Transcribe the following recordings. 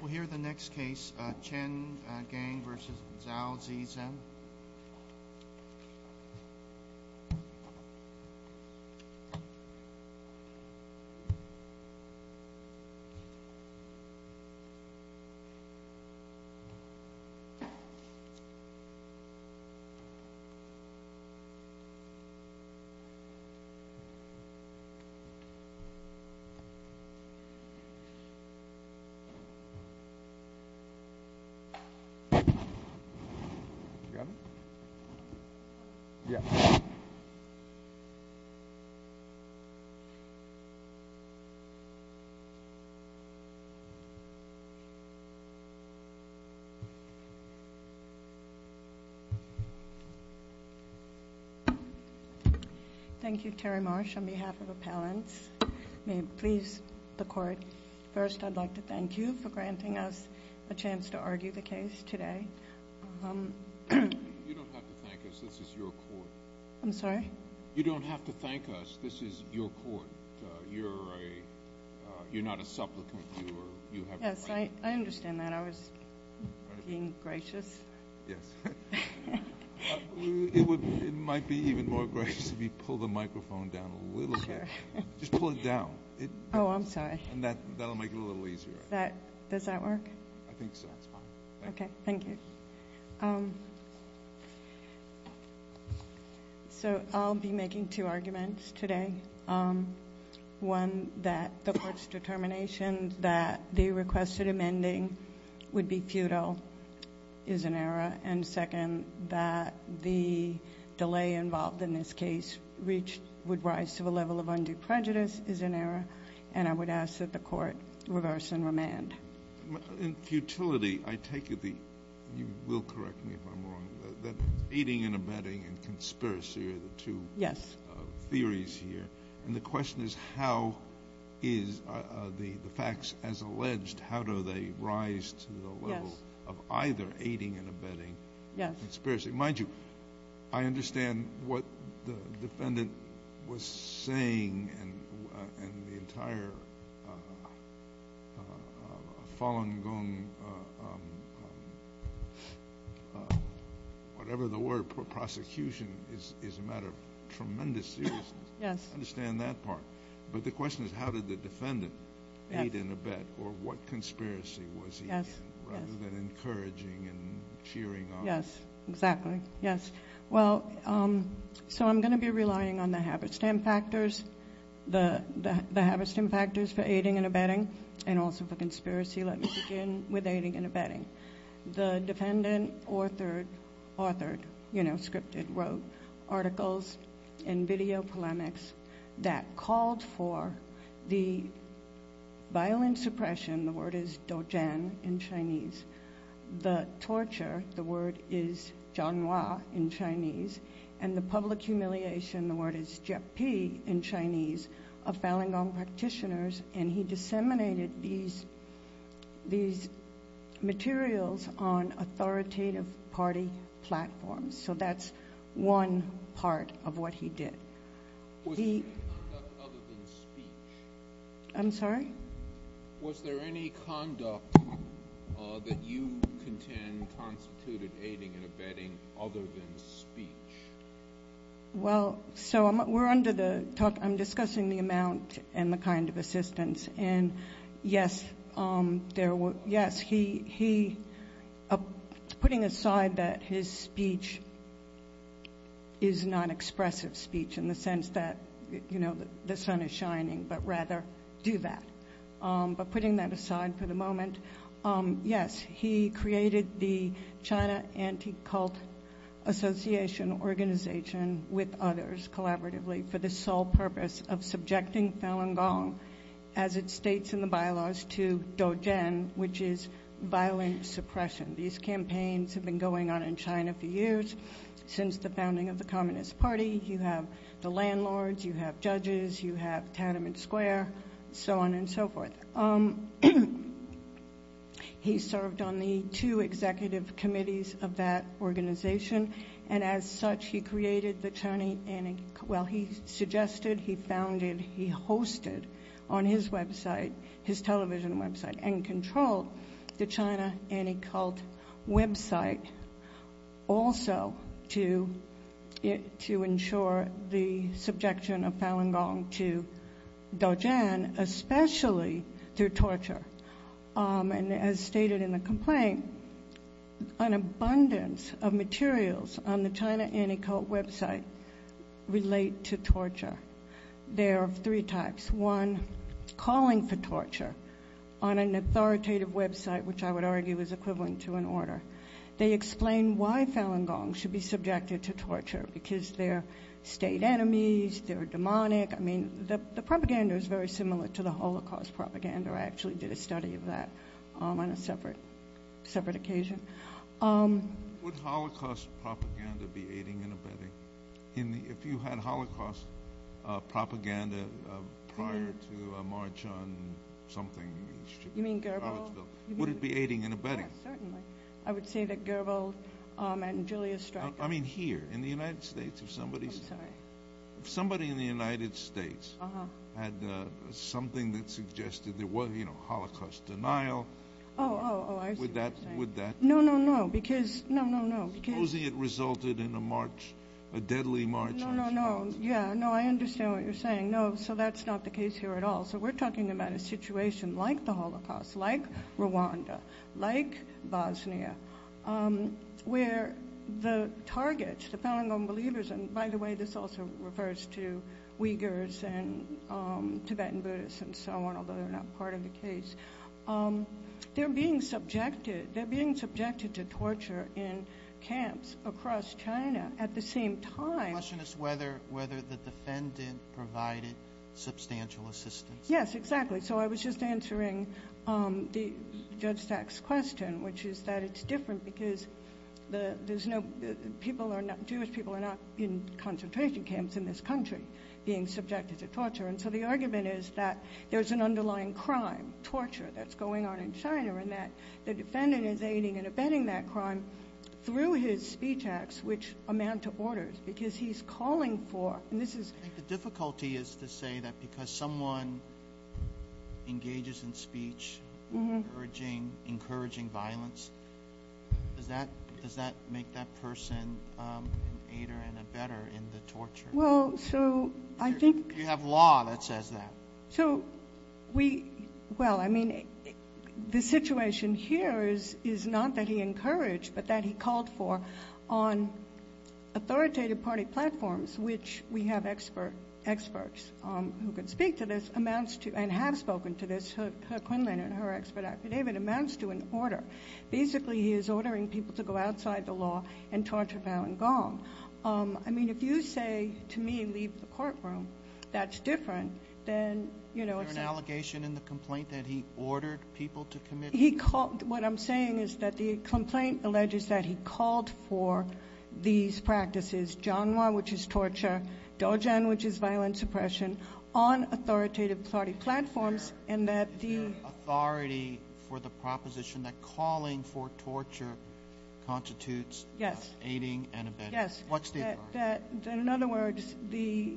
We'll hear the next case, Chen Gang v. Zhao Zhizhen. Thank you, Terry Marsh, on behalf of appellants, may it please the Court, first I'd like to thank you for granting us a chance to argue the case today. You don't have to thank us, this is your Court, you're not a supplicant, you have a right. Yes, I understand that, I was being gracious. Yes, it might be even more gracious if you pulled the microphone down a little bit, just pull it down. Oh, I'm sorry. And that'll make it a little easier. Does that work? I think so, it's fine. Okay, thank you. So I'll be making two arguments today. One, that the Court's determination that the requested amending would be futile is an error, and second, that the delay involved in this case would rise to the level of undue prejudice is an error, and I would ask that the Court reverse and remand. In futility, I take it the, you will correct me if I'm wrong, that aiding and abetting and conspiracy are the two theories here. Yes. And the question is how is the facts as alleged, how do they rise to the level of either aiding and abetting. Yes. Conspiracy. Mind you, I understand what the defendant was saying and the entire Falun Gong, whatever the word, prosecution, is a matter of tremendous seriousness. Yes. I understand that part. But the question is how did the defendant aid and abet, or what conspiracy was he in, rather than encouraging and cheering on. Yes, exactly. Yes. Well, so I'm going to be relying on the Haberstam factors, the Haberstam factors for aiding and abetting, and also for conspiracy. Let me begin with aiding and abetting. The defendant authored, you know, scripted, wrote articles and video polemics that called for the violent suppression, the word is doujian in Chinese, the torture, the word is jianhua in Chinese, and the public humiliation, the word is jiepi in Chinese, of Falun Gong practitioners. And he disseminated these materials on authoritative party platforms. So that's one part of what he did. Was there any conduct other than speech? I'm sorry? Was there any conduct that you contend constituted aiding and abetting other than speech? Well, so we're under the talk, I'm discussing the amount and the kind of assistance. And, yes, there were, yes, he, putting aside that his speech is non-expressive speech in the sense that, you know, the sun is shining, but rather do that. But putting that aside for the moment, yes, he created the China Anti-Cult Association Organization with others collaboratively for the sole purpose of subjecting Falun Gong, as it states in the bylaws, to doujian, which is violent suppression. These campaigns have been going on in China for years, since the founding of the Communist Party. You have the landlords, you have judges, you have Tiananmen Square, so on and so forth. He served on the two executive committees of that organization, and as such, he created the China Anti-Cult. Well, he suggested, he founded, he hosted on his website, his television website, and controlled the China Anti-Cult website also to ensure the subjection of Falun Gong to doujian, especially through torture. And as stated in the complaint, an abundance of materials on the China Anti-Cult website relate to torture. There are three types. One, calling for torture on an authoritative website, which I would argue is equivalent to an order. They explain why Falun Gong should be subjected to torture, because they're state enemies, they're demonic. I mean, the propaganda is very similar to the Holocaust propaganda. I actually did a study of that on a separate occasion. Would Holocaust propaganda be aiding and abetting? If you had Holocaust propaganda prior to a march on something in the streets of Charlottesville, would it be aiding and abetting? Yes, certainly. I would say that Goebbels and Julius Streich— I mean here, in the United States, if somebody— I'm sorry. If somebody in the United States had something that suggested there was, you know, Holocaust denial— Oh, oh, oh, I see what you're saying. Would that— No, no, no, because, no, no, no, because— Yeah, no, I understand what you're saying. No, so that's not the case here at all. So we're talking about a situation like the Holocaust, like Rwanda, like Bosnia, where the targets, the Falun Gong believers— and by the way, this also refers to Uyghurs and Tibetan Buddhists and so on, although they're not part of the case— they're being subjected to torture in camps across China at the same time. My question is whether the defendant provided substantial assistance. Yes, exactly. So I was just answering Judge Stack's question, which is that it's different because there's no— Jewish people are not in concentration camps in this country being subjected to torture. And so the argument is that there's an underlying crime, torture, that's going on in China, and that the defendant is aiding and abetting that crime through his speech acts, which amount to orders, because he's calling for— I think the difficulty is to say that because someone engages in speech, encouraging violence, does that make that person an aider and abetter in the torture? Well, so I think— You have law that says that. So we—well, I mean, the situation here is not that he encouraged, but that he called for on authoritative party platforms, which we have experts who can speak to this, amounts to—and have spoken to this. Herr Quinlan in her expert affidavit amounts to an order. Basically, he is ordering people to go outside the law and torture Falun Gong. I mean, if you say to me, leave the courtroom, that's different than— Is there an allegation in the complaint that he ordered people to commit— He called—what I'm saying is that the complaint alleges that he called for these practices, janghwa, which is torture, dojen, which is violent suppression, on authoritative party platforms, and that the— Is there authority for the proposition that calling for torture constitutes aiding and abetting? Yes. What statement? In other words, the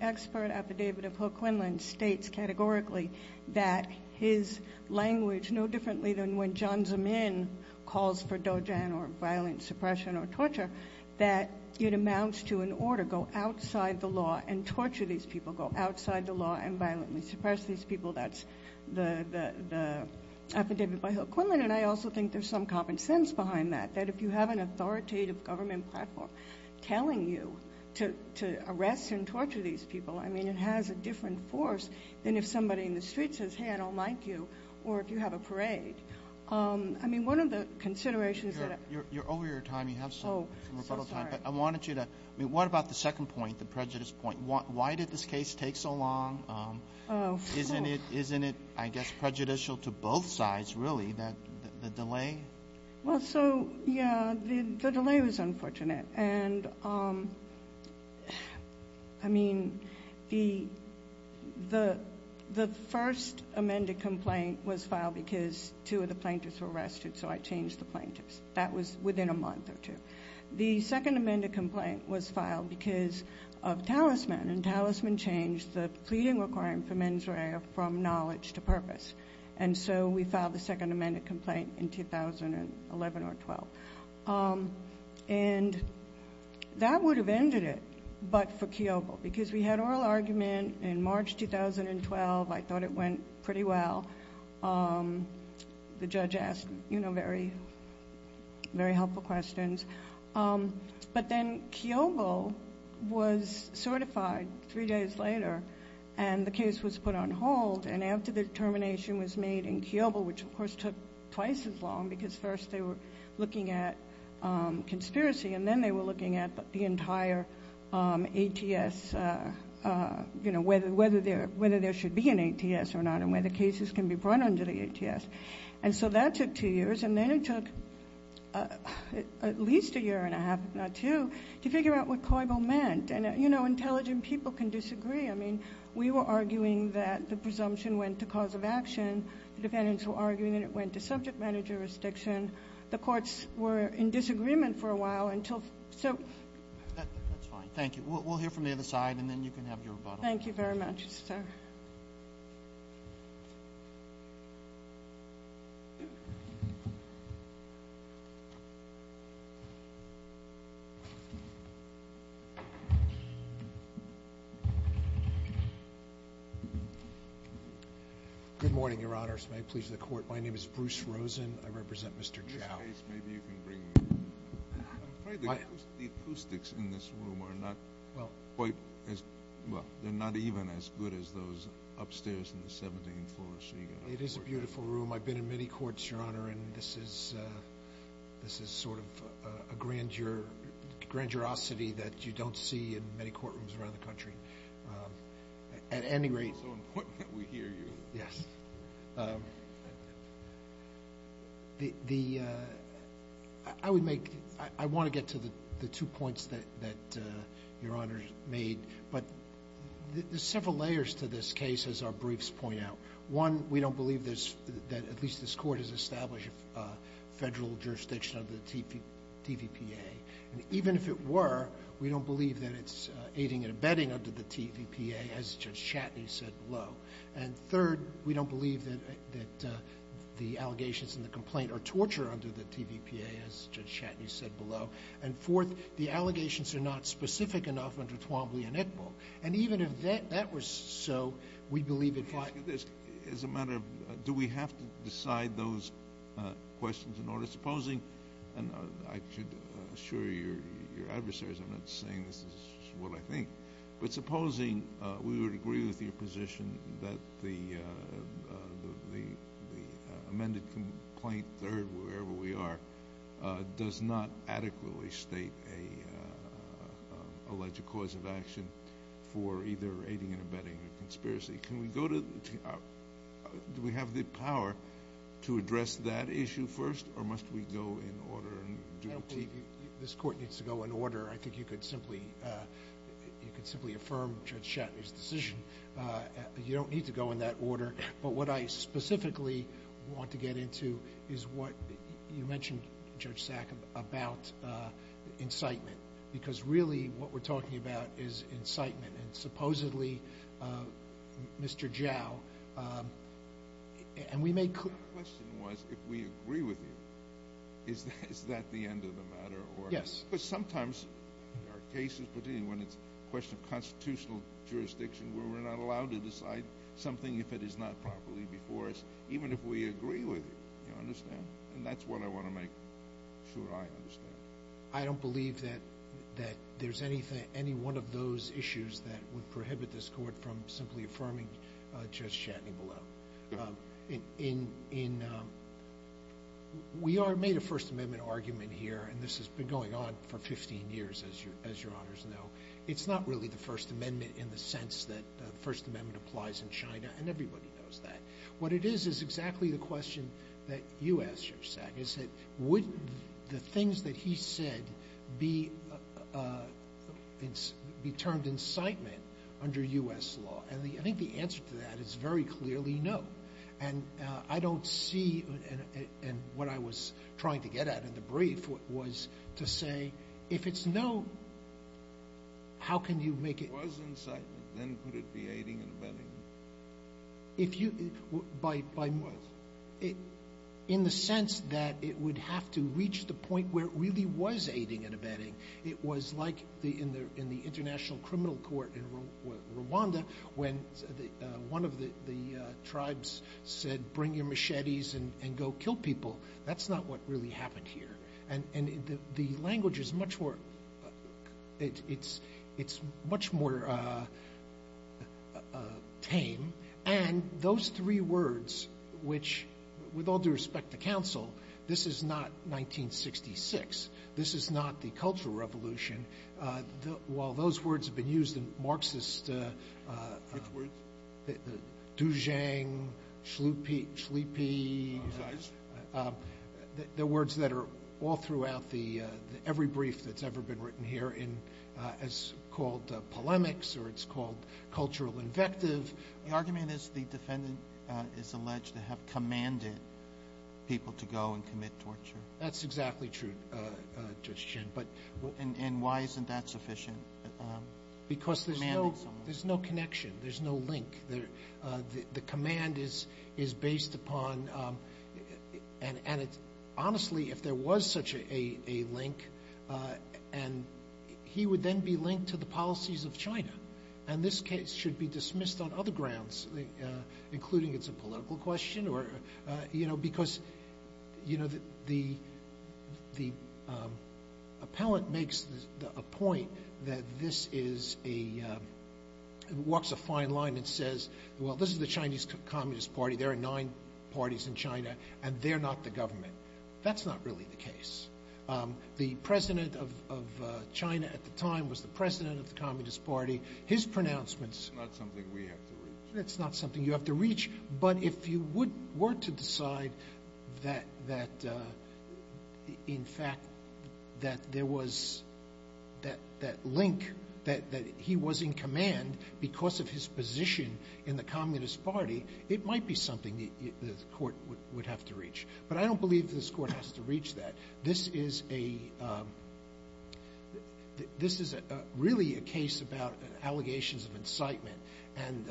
expert affidavit of Herr Quinlan states categorically that his language, no differently than when Jiang Zemin calls for dojen or violent suppression or torture, that it amounts to an order, go outside the law and torture these people, go outside the law and violently suppress these people. That's the affidavit by Herr Quinlan. And I also think there's some common sense behind that, that if you have an authoritative government platform telling you to arrest and torture these people, I mean, it has a different force than if somebody in the street says, hey, I don't like you, or if you have a parade. I mean, one of the considerations that— You're over your time. You have some rebuttal time. Oh, I'm so sorry. I wanted you to—I mean, what about the second point, the prejudice point? Why did this case take so long? Isn't it, I guess, prejudicial to both sides, really, the delay? Well, so, yeah, the delay was unfortunate. And, I mean, the first amended complaint was filed because two of the plaintiffs were arrested, so I changed the plaintiffs. That was within a month or two. The second amended complaint was filed because of talisman, and talisman changed the pleading requirement for mens rea from knowledge to purpose. And so we filed the second amended complaint in 2011 or 12. And that would have ended it, but for Keoghle, because we had oral argument in March 2012. I thought it went pretty well. The judge asked, you know, very helpful questions. But then Keoghle was certified three days later, and the case was put on hold, and after the determination was made in Keoghle, which, of course, took twice as long, because first they were looking at conspiracy, and then they were looking at the entire ATS, you know, whether there should be an ATS or not and whether cases can be brought under the ATS. And so that took two years. And then it took at least a year and a half, if not two, to figure out what Keoghle meant. And, you know, intelligent people can disagree. I mean, we were arguing that the presumption went to cause of action. The defendants were arguing that it went to subject matter jurisdiction. The courts were in disagreement for a while until so. That's fine. Thank you. We'll hear from the other side, and then you can have your rebuttal. Thank you very much, sir. Good morning, Your Honors. May it please the Court. My name is Bruce Rosen. I represent Mr. Chow. I'm afraid the acoustics in this room are not quite as ñ well, they're not even as good as those upstairs in the 17th floor. It is a beautiful room. I've been in many courts, Your Honor, and this is sort of a grandiosity that you don't see in many courtrooms around the country. At any rate ñ It's so important that we hear you. Yes. I would make ñ I want to get to the two points that Your Honor made. But there's several layers to this case, as our briefs point out. One, we don't believe that at least this Court has established federal jurisdiction under the TVPA. And even if it were, we don't believe that it's aiding and abetting under the TVPA, as Judge Chatney said below. And third, we don't believe that the allegations in the complaint are torture under the TVPA, as Judge Chatney said below. And fourth, the allegations are not specific enough under Twombly and Iqbal. And even if that were so, we believe it ñ As a matter of ñ do we have to decide those questions in order? Supposing ñ and I should assure your adversaries I'm not saying this is what I think. But supposing we would agree with your position that the amended complaint third, wherever we are, does not adequately state an alleged cause of action for either aiding and abetting or conspiracy. Can we go to ñ do we have the power to address that issue first or must we go in order? I don't believe this Court needs to go in order. I think you could simply affirm Judge Chatney's decision. You don't need to go in that order. But what I specifically want to get into is what you mentioned, Judge Sack, about incitement. Because really what we're talking about is incitement. And supposedly, Mr. Zhao, and we may ñ My question was if we agree with you, is that the end of the matter? Yes. Because sometimes there are cases, particularly when it's a question of constitutional jurisdiction, where we're not allowed to decide something if it is not properly before us, even if we agree with you, you understand? And that's what I want to make sure I understand. I don't believe that there's any one of those issues that would prohibit this Court from simply affirming Judge Chatney below. In ñ we are ñ made a First Amendment argument here, and this has been going on for 15 years, as Your Honors know. It's not really the First Amendment in the sense that the First Amendment applies in China, and everybody knows that. My question is that would the things that he said be termed incitement under U.S. law? And I think the answer to that is very clearly no. And I don't see ñ and what I was trying to get at in the brief was to say if it's no, how can you make it ñ If it was incitement, then could it be aiding and abetting? If you ñ by ñ in the sense that it would have to reach the point where it really was aiding and abetting. It was like in the International Criminal Court in Rwanda when one of the tribes said, bring your machetes and go kill people. That's not what really happened here. And the language is much more ñ it's much more tame. And those three words, which, with all due respect to counsel, this is not 1966. This is not the Cultural Revolution. While those words have been used in Marxist ñ Which words? Dujang, Shlupi, the words that are all throughout the ñ every brief that's ever been written here as called polemics or it's called cultural invective. The argument is the defendant is alleged to have commanded people to go and commit torture. That's exactly true, Judge Chin. And why isn't that sufficient? Because there's no connection. There's no link. The command is based upon ñ and it's ñ honestly, if there was such a link, he would then be linked to the policies of China. And this case should be dismissed on other grounds, including it's a political question or ñ this is a ñ walks a fine line and says, well, this is the Chinese Communist Party. There are nine parties in China, and they're not the government. That's not really the case. The president of China at the time was the president of the Communist Party. His pronouncements ñ It's not something we have to reach. It's not something you have to reach. But if you were to decide that, in fact, that there was that link, that he was in command because of his position in the Communist Party, it might be something the court would have to reach. But I don't believe this court has to reach that. This is a ñ this is really a case about allegations of incitement. And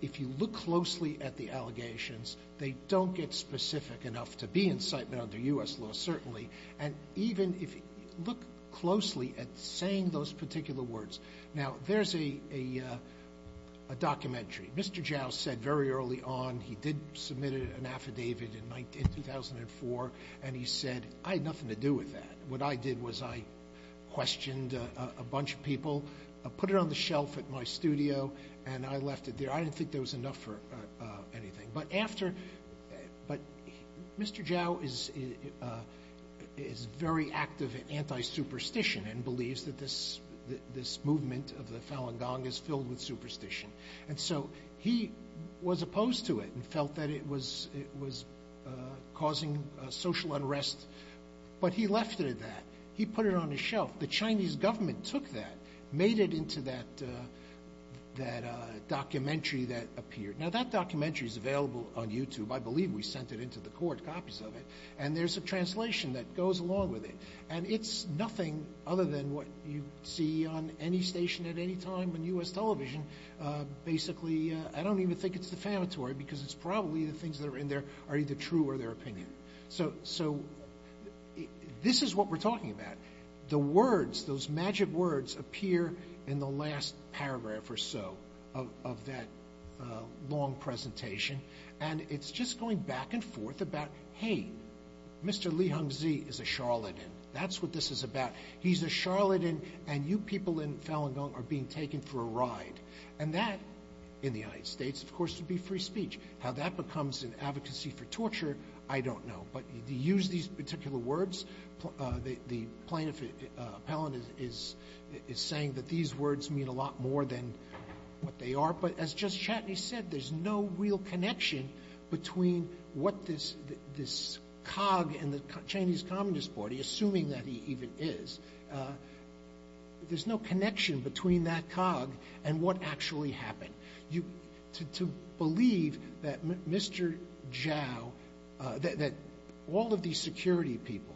if you look closely at the allegations, they don't get specific enough to be incitement under U.S. law, certainly. And even if ñ look closely at saying those particular words. Now, there's a documentary. Mr. Zhao said very early on, he did submit an affidavit in 2004, and he said, I had nothing to do with that. What I did was I questioned a bunch of people, put it on the shelf at my studio, and I left it there. I didn't think there was enough for anything. But after ñ but Mr. Zhao is very active in anti-superstition and believes that this movement of the Falun Gong is filled with superstition. And so he was opposed to it and felt that it was causing social unrest. But he left it at that. He put it on his shelf. The Chinese government took that, made it into that documentary that appeared. Now, that documentary is available on YouTube. I believe we sent it into the court, copies of it. And there's a translation that goes along with it. And it's nothing other than what you see on any station at any time on U.S. television. Basically, I don't even think it's defamatory because it's probably the things that are in there are either true or their opinion. So this is what we're talking about. The words, those magic words, appear in the last paragraph or so of that long presentation. And it's just going back and forth about, hey, Mr. Li Hongzhi is a charlatan. That's what this is about. He's a charlatan, and you people in Falun Gong are being taken for a ride. And that, in the United States, of course, would be free speech. How that becomes an advocacy for torture, I don't know. But you use these particular words. The plaintiff, Appellant, is saying that these words mean a lot more than what they are. But as Justice Chatney said, there's no real connection between what this cog in the Chinese Communist Party, assuming that he even is, there's no connection between that cog and what actually happened. To believe that Mr. Zhao, that all of these security people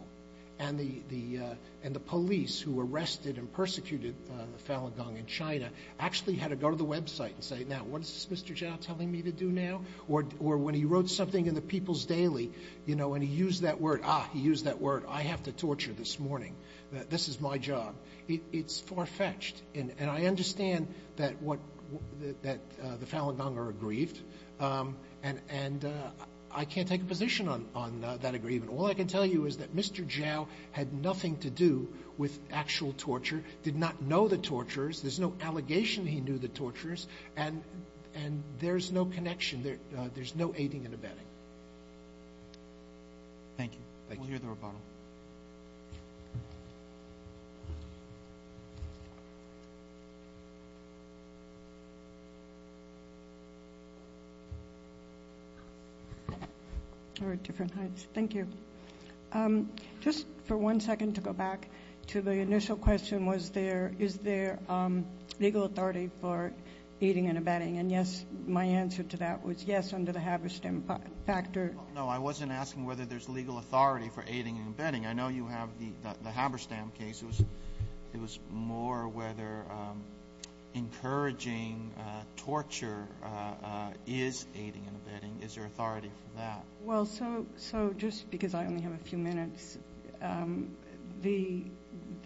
and the police who arrested and persecuted the Falun Gong in China actually had to go to the website and say, now, what is Mr. Zhao telling me to do now? Or when he wrote something in the People's Daily, you know, when he used that word, ah, he used that word, I have to torture this morning. This is my job. It's far-fetched. And I understand that the Falun Gong are aggrieved. And I can't take a position on that aggrievement. All I can tell you is that Mr. Zhao had nothing to do with actual torture, did not know the torturers. There's no allegation he knew the torturers. And there's no connection. There's no aiding and abetting. Thank you. We'll hear the rebuttal. Thank you. Just for one second to go back to the initial question, was there, is there legal authority for aiding and abetting? And, yes, my answer to that was, yes, under the Haberstam factor. No, I wasn't asking whether there's legal authority for aiding and abetting. I know you have the Haberstam case. It was more whether encouraging torture is aiding and abetting. Is there authority for that? Well, so just because I only have a few minutes, the,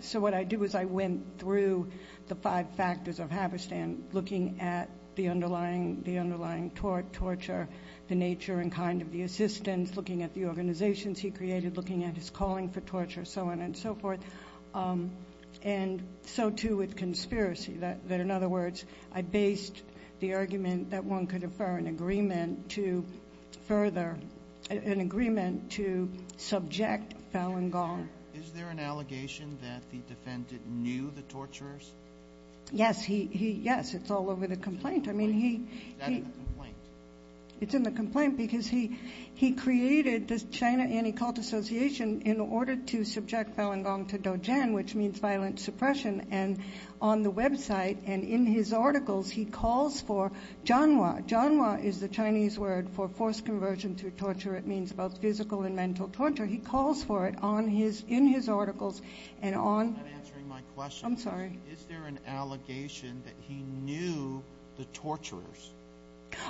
so what I did was I went through the five factors of Haberstam, looking at the underlying torture, the nature and kind of the assistance, looking at the organizations he created, looking at his calling for torture, so on and so forth. And so, too, with conspiracy, that, in other words, I based the argument that one could infer an agreement to further, an agreement to subject Fallon Gong. Is there an allegation that the defendant knew the torturers? Yes. He, yes. I mean, he. Is that in the complaint? It's in the complaint because he created the China Anti-Cult Association in order to subject Fallon Gong to doujian, which means violent suppression, and on the website and in his articles he calls for janwa. Janwa is the Chinese word for forced conversion through torture. It means both physical and mental torture. He calls for it in his articles and on. I'm not answering my question. I'm sorry. Is there an allegation that he knew the torturers?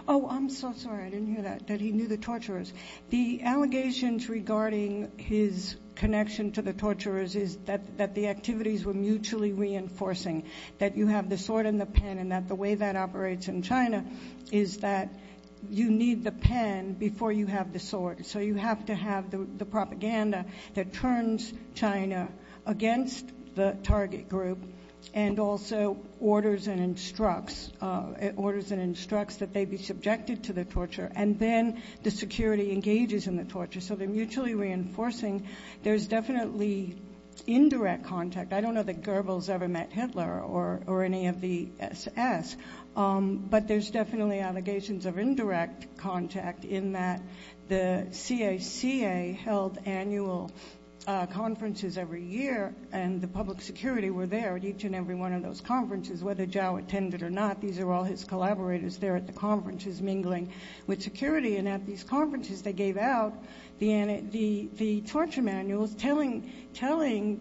Oh, I'm so sorry. I didn't hear that, that he knew the torturers. The allegations regarding his connection to the torturers is that the activities were mutually reinforcing, that you have the sword and the pen, and that the way that operates in China is that you need the pen before you have the sword. So you have to have the propaganda that turns China against the target group and also orders and instructs that they be subjected to the torture, and then the security engages in the torture. So they're mutually reinforcing. There's definitely indirect contact. I don't know that Goebbels ever met Hitler or any of the SS, but there's definitely allegations of indirect contact in that the CACA held annual conferences every year, and the public security were there at each and every one of those conferences, whether Zhao attended or not. These are all his collaborators there at the conferences mingling with security, and at these conferences they gave out the torture manuals telling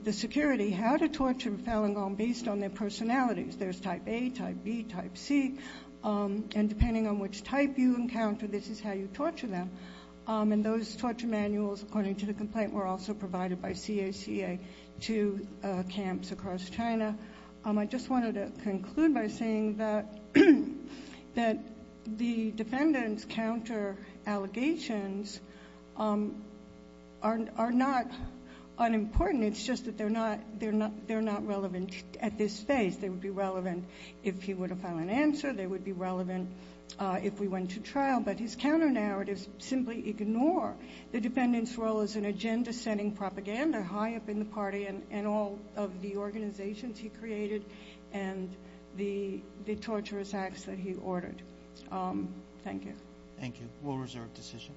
the security how to torture Falun Gong based on their personalities. There's type A, type B, type C, and depending on which type you encounter, this is how you torture them. And those torture manuals, according to the complaint, were also provided by CACA to camps across China. I just wanted to conclude by saying that the defendant's counter allegations are not unimportant. It's just that they're not relevant at this phase. They would be relevant if he were to file an answer. They would be relevant if we went to trial. But his counter narratives simply ignore the defendant's role as an agenda-setting propaganda high up in the party and all of the organizations he created and the torturous acts that he ordered. Thank you. Thank you. We'll reserve decision.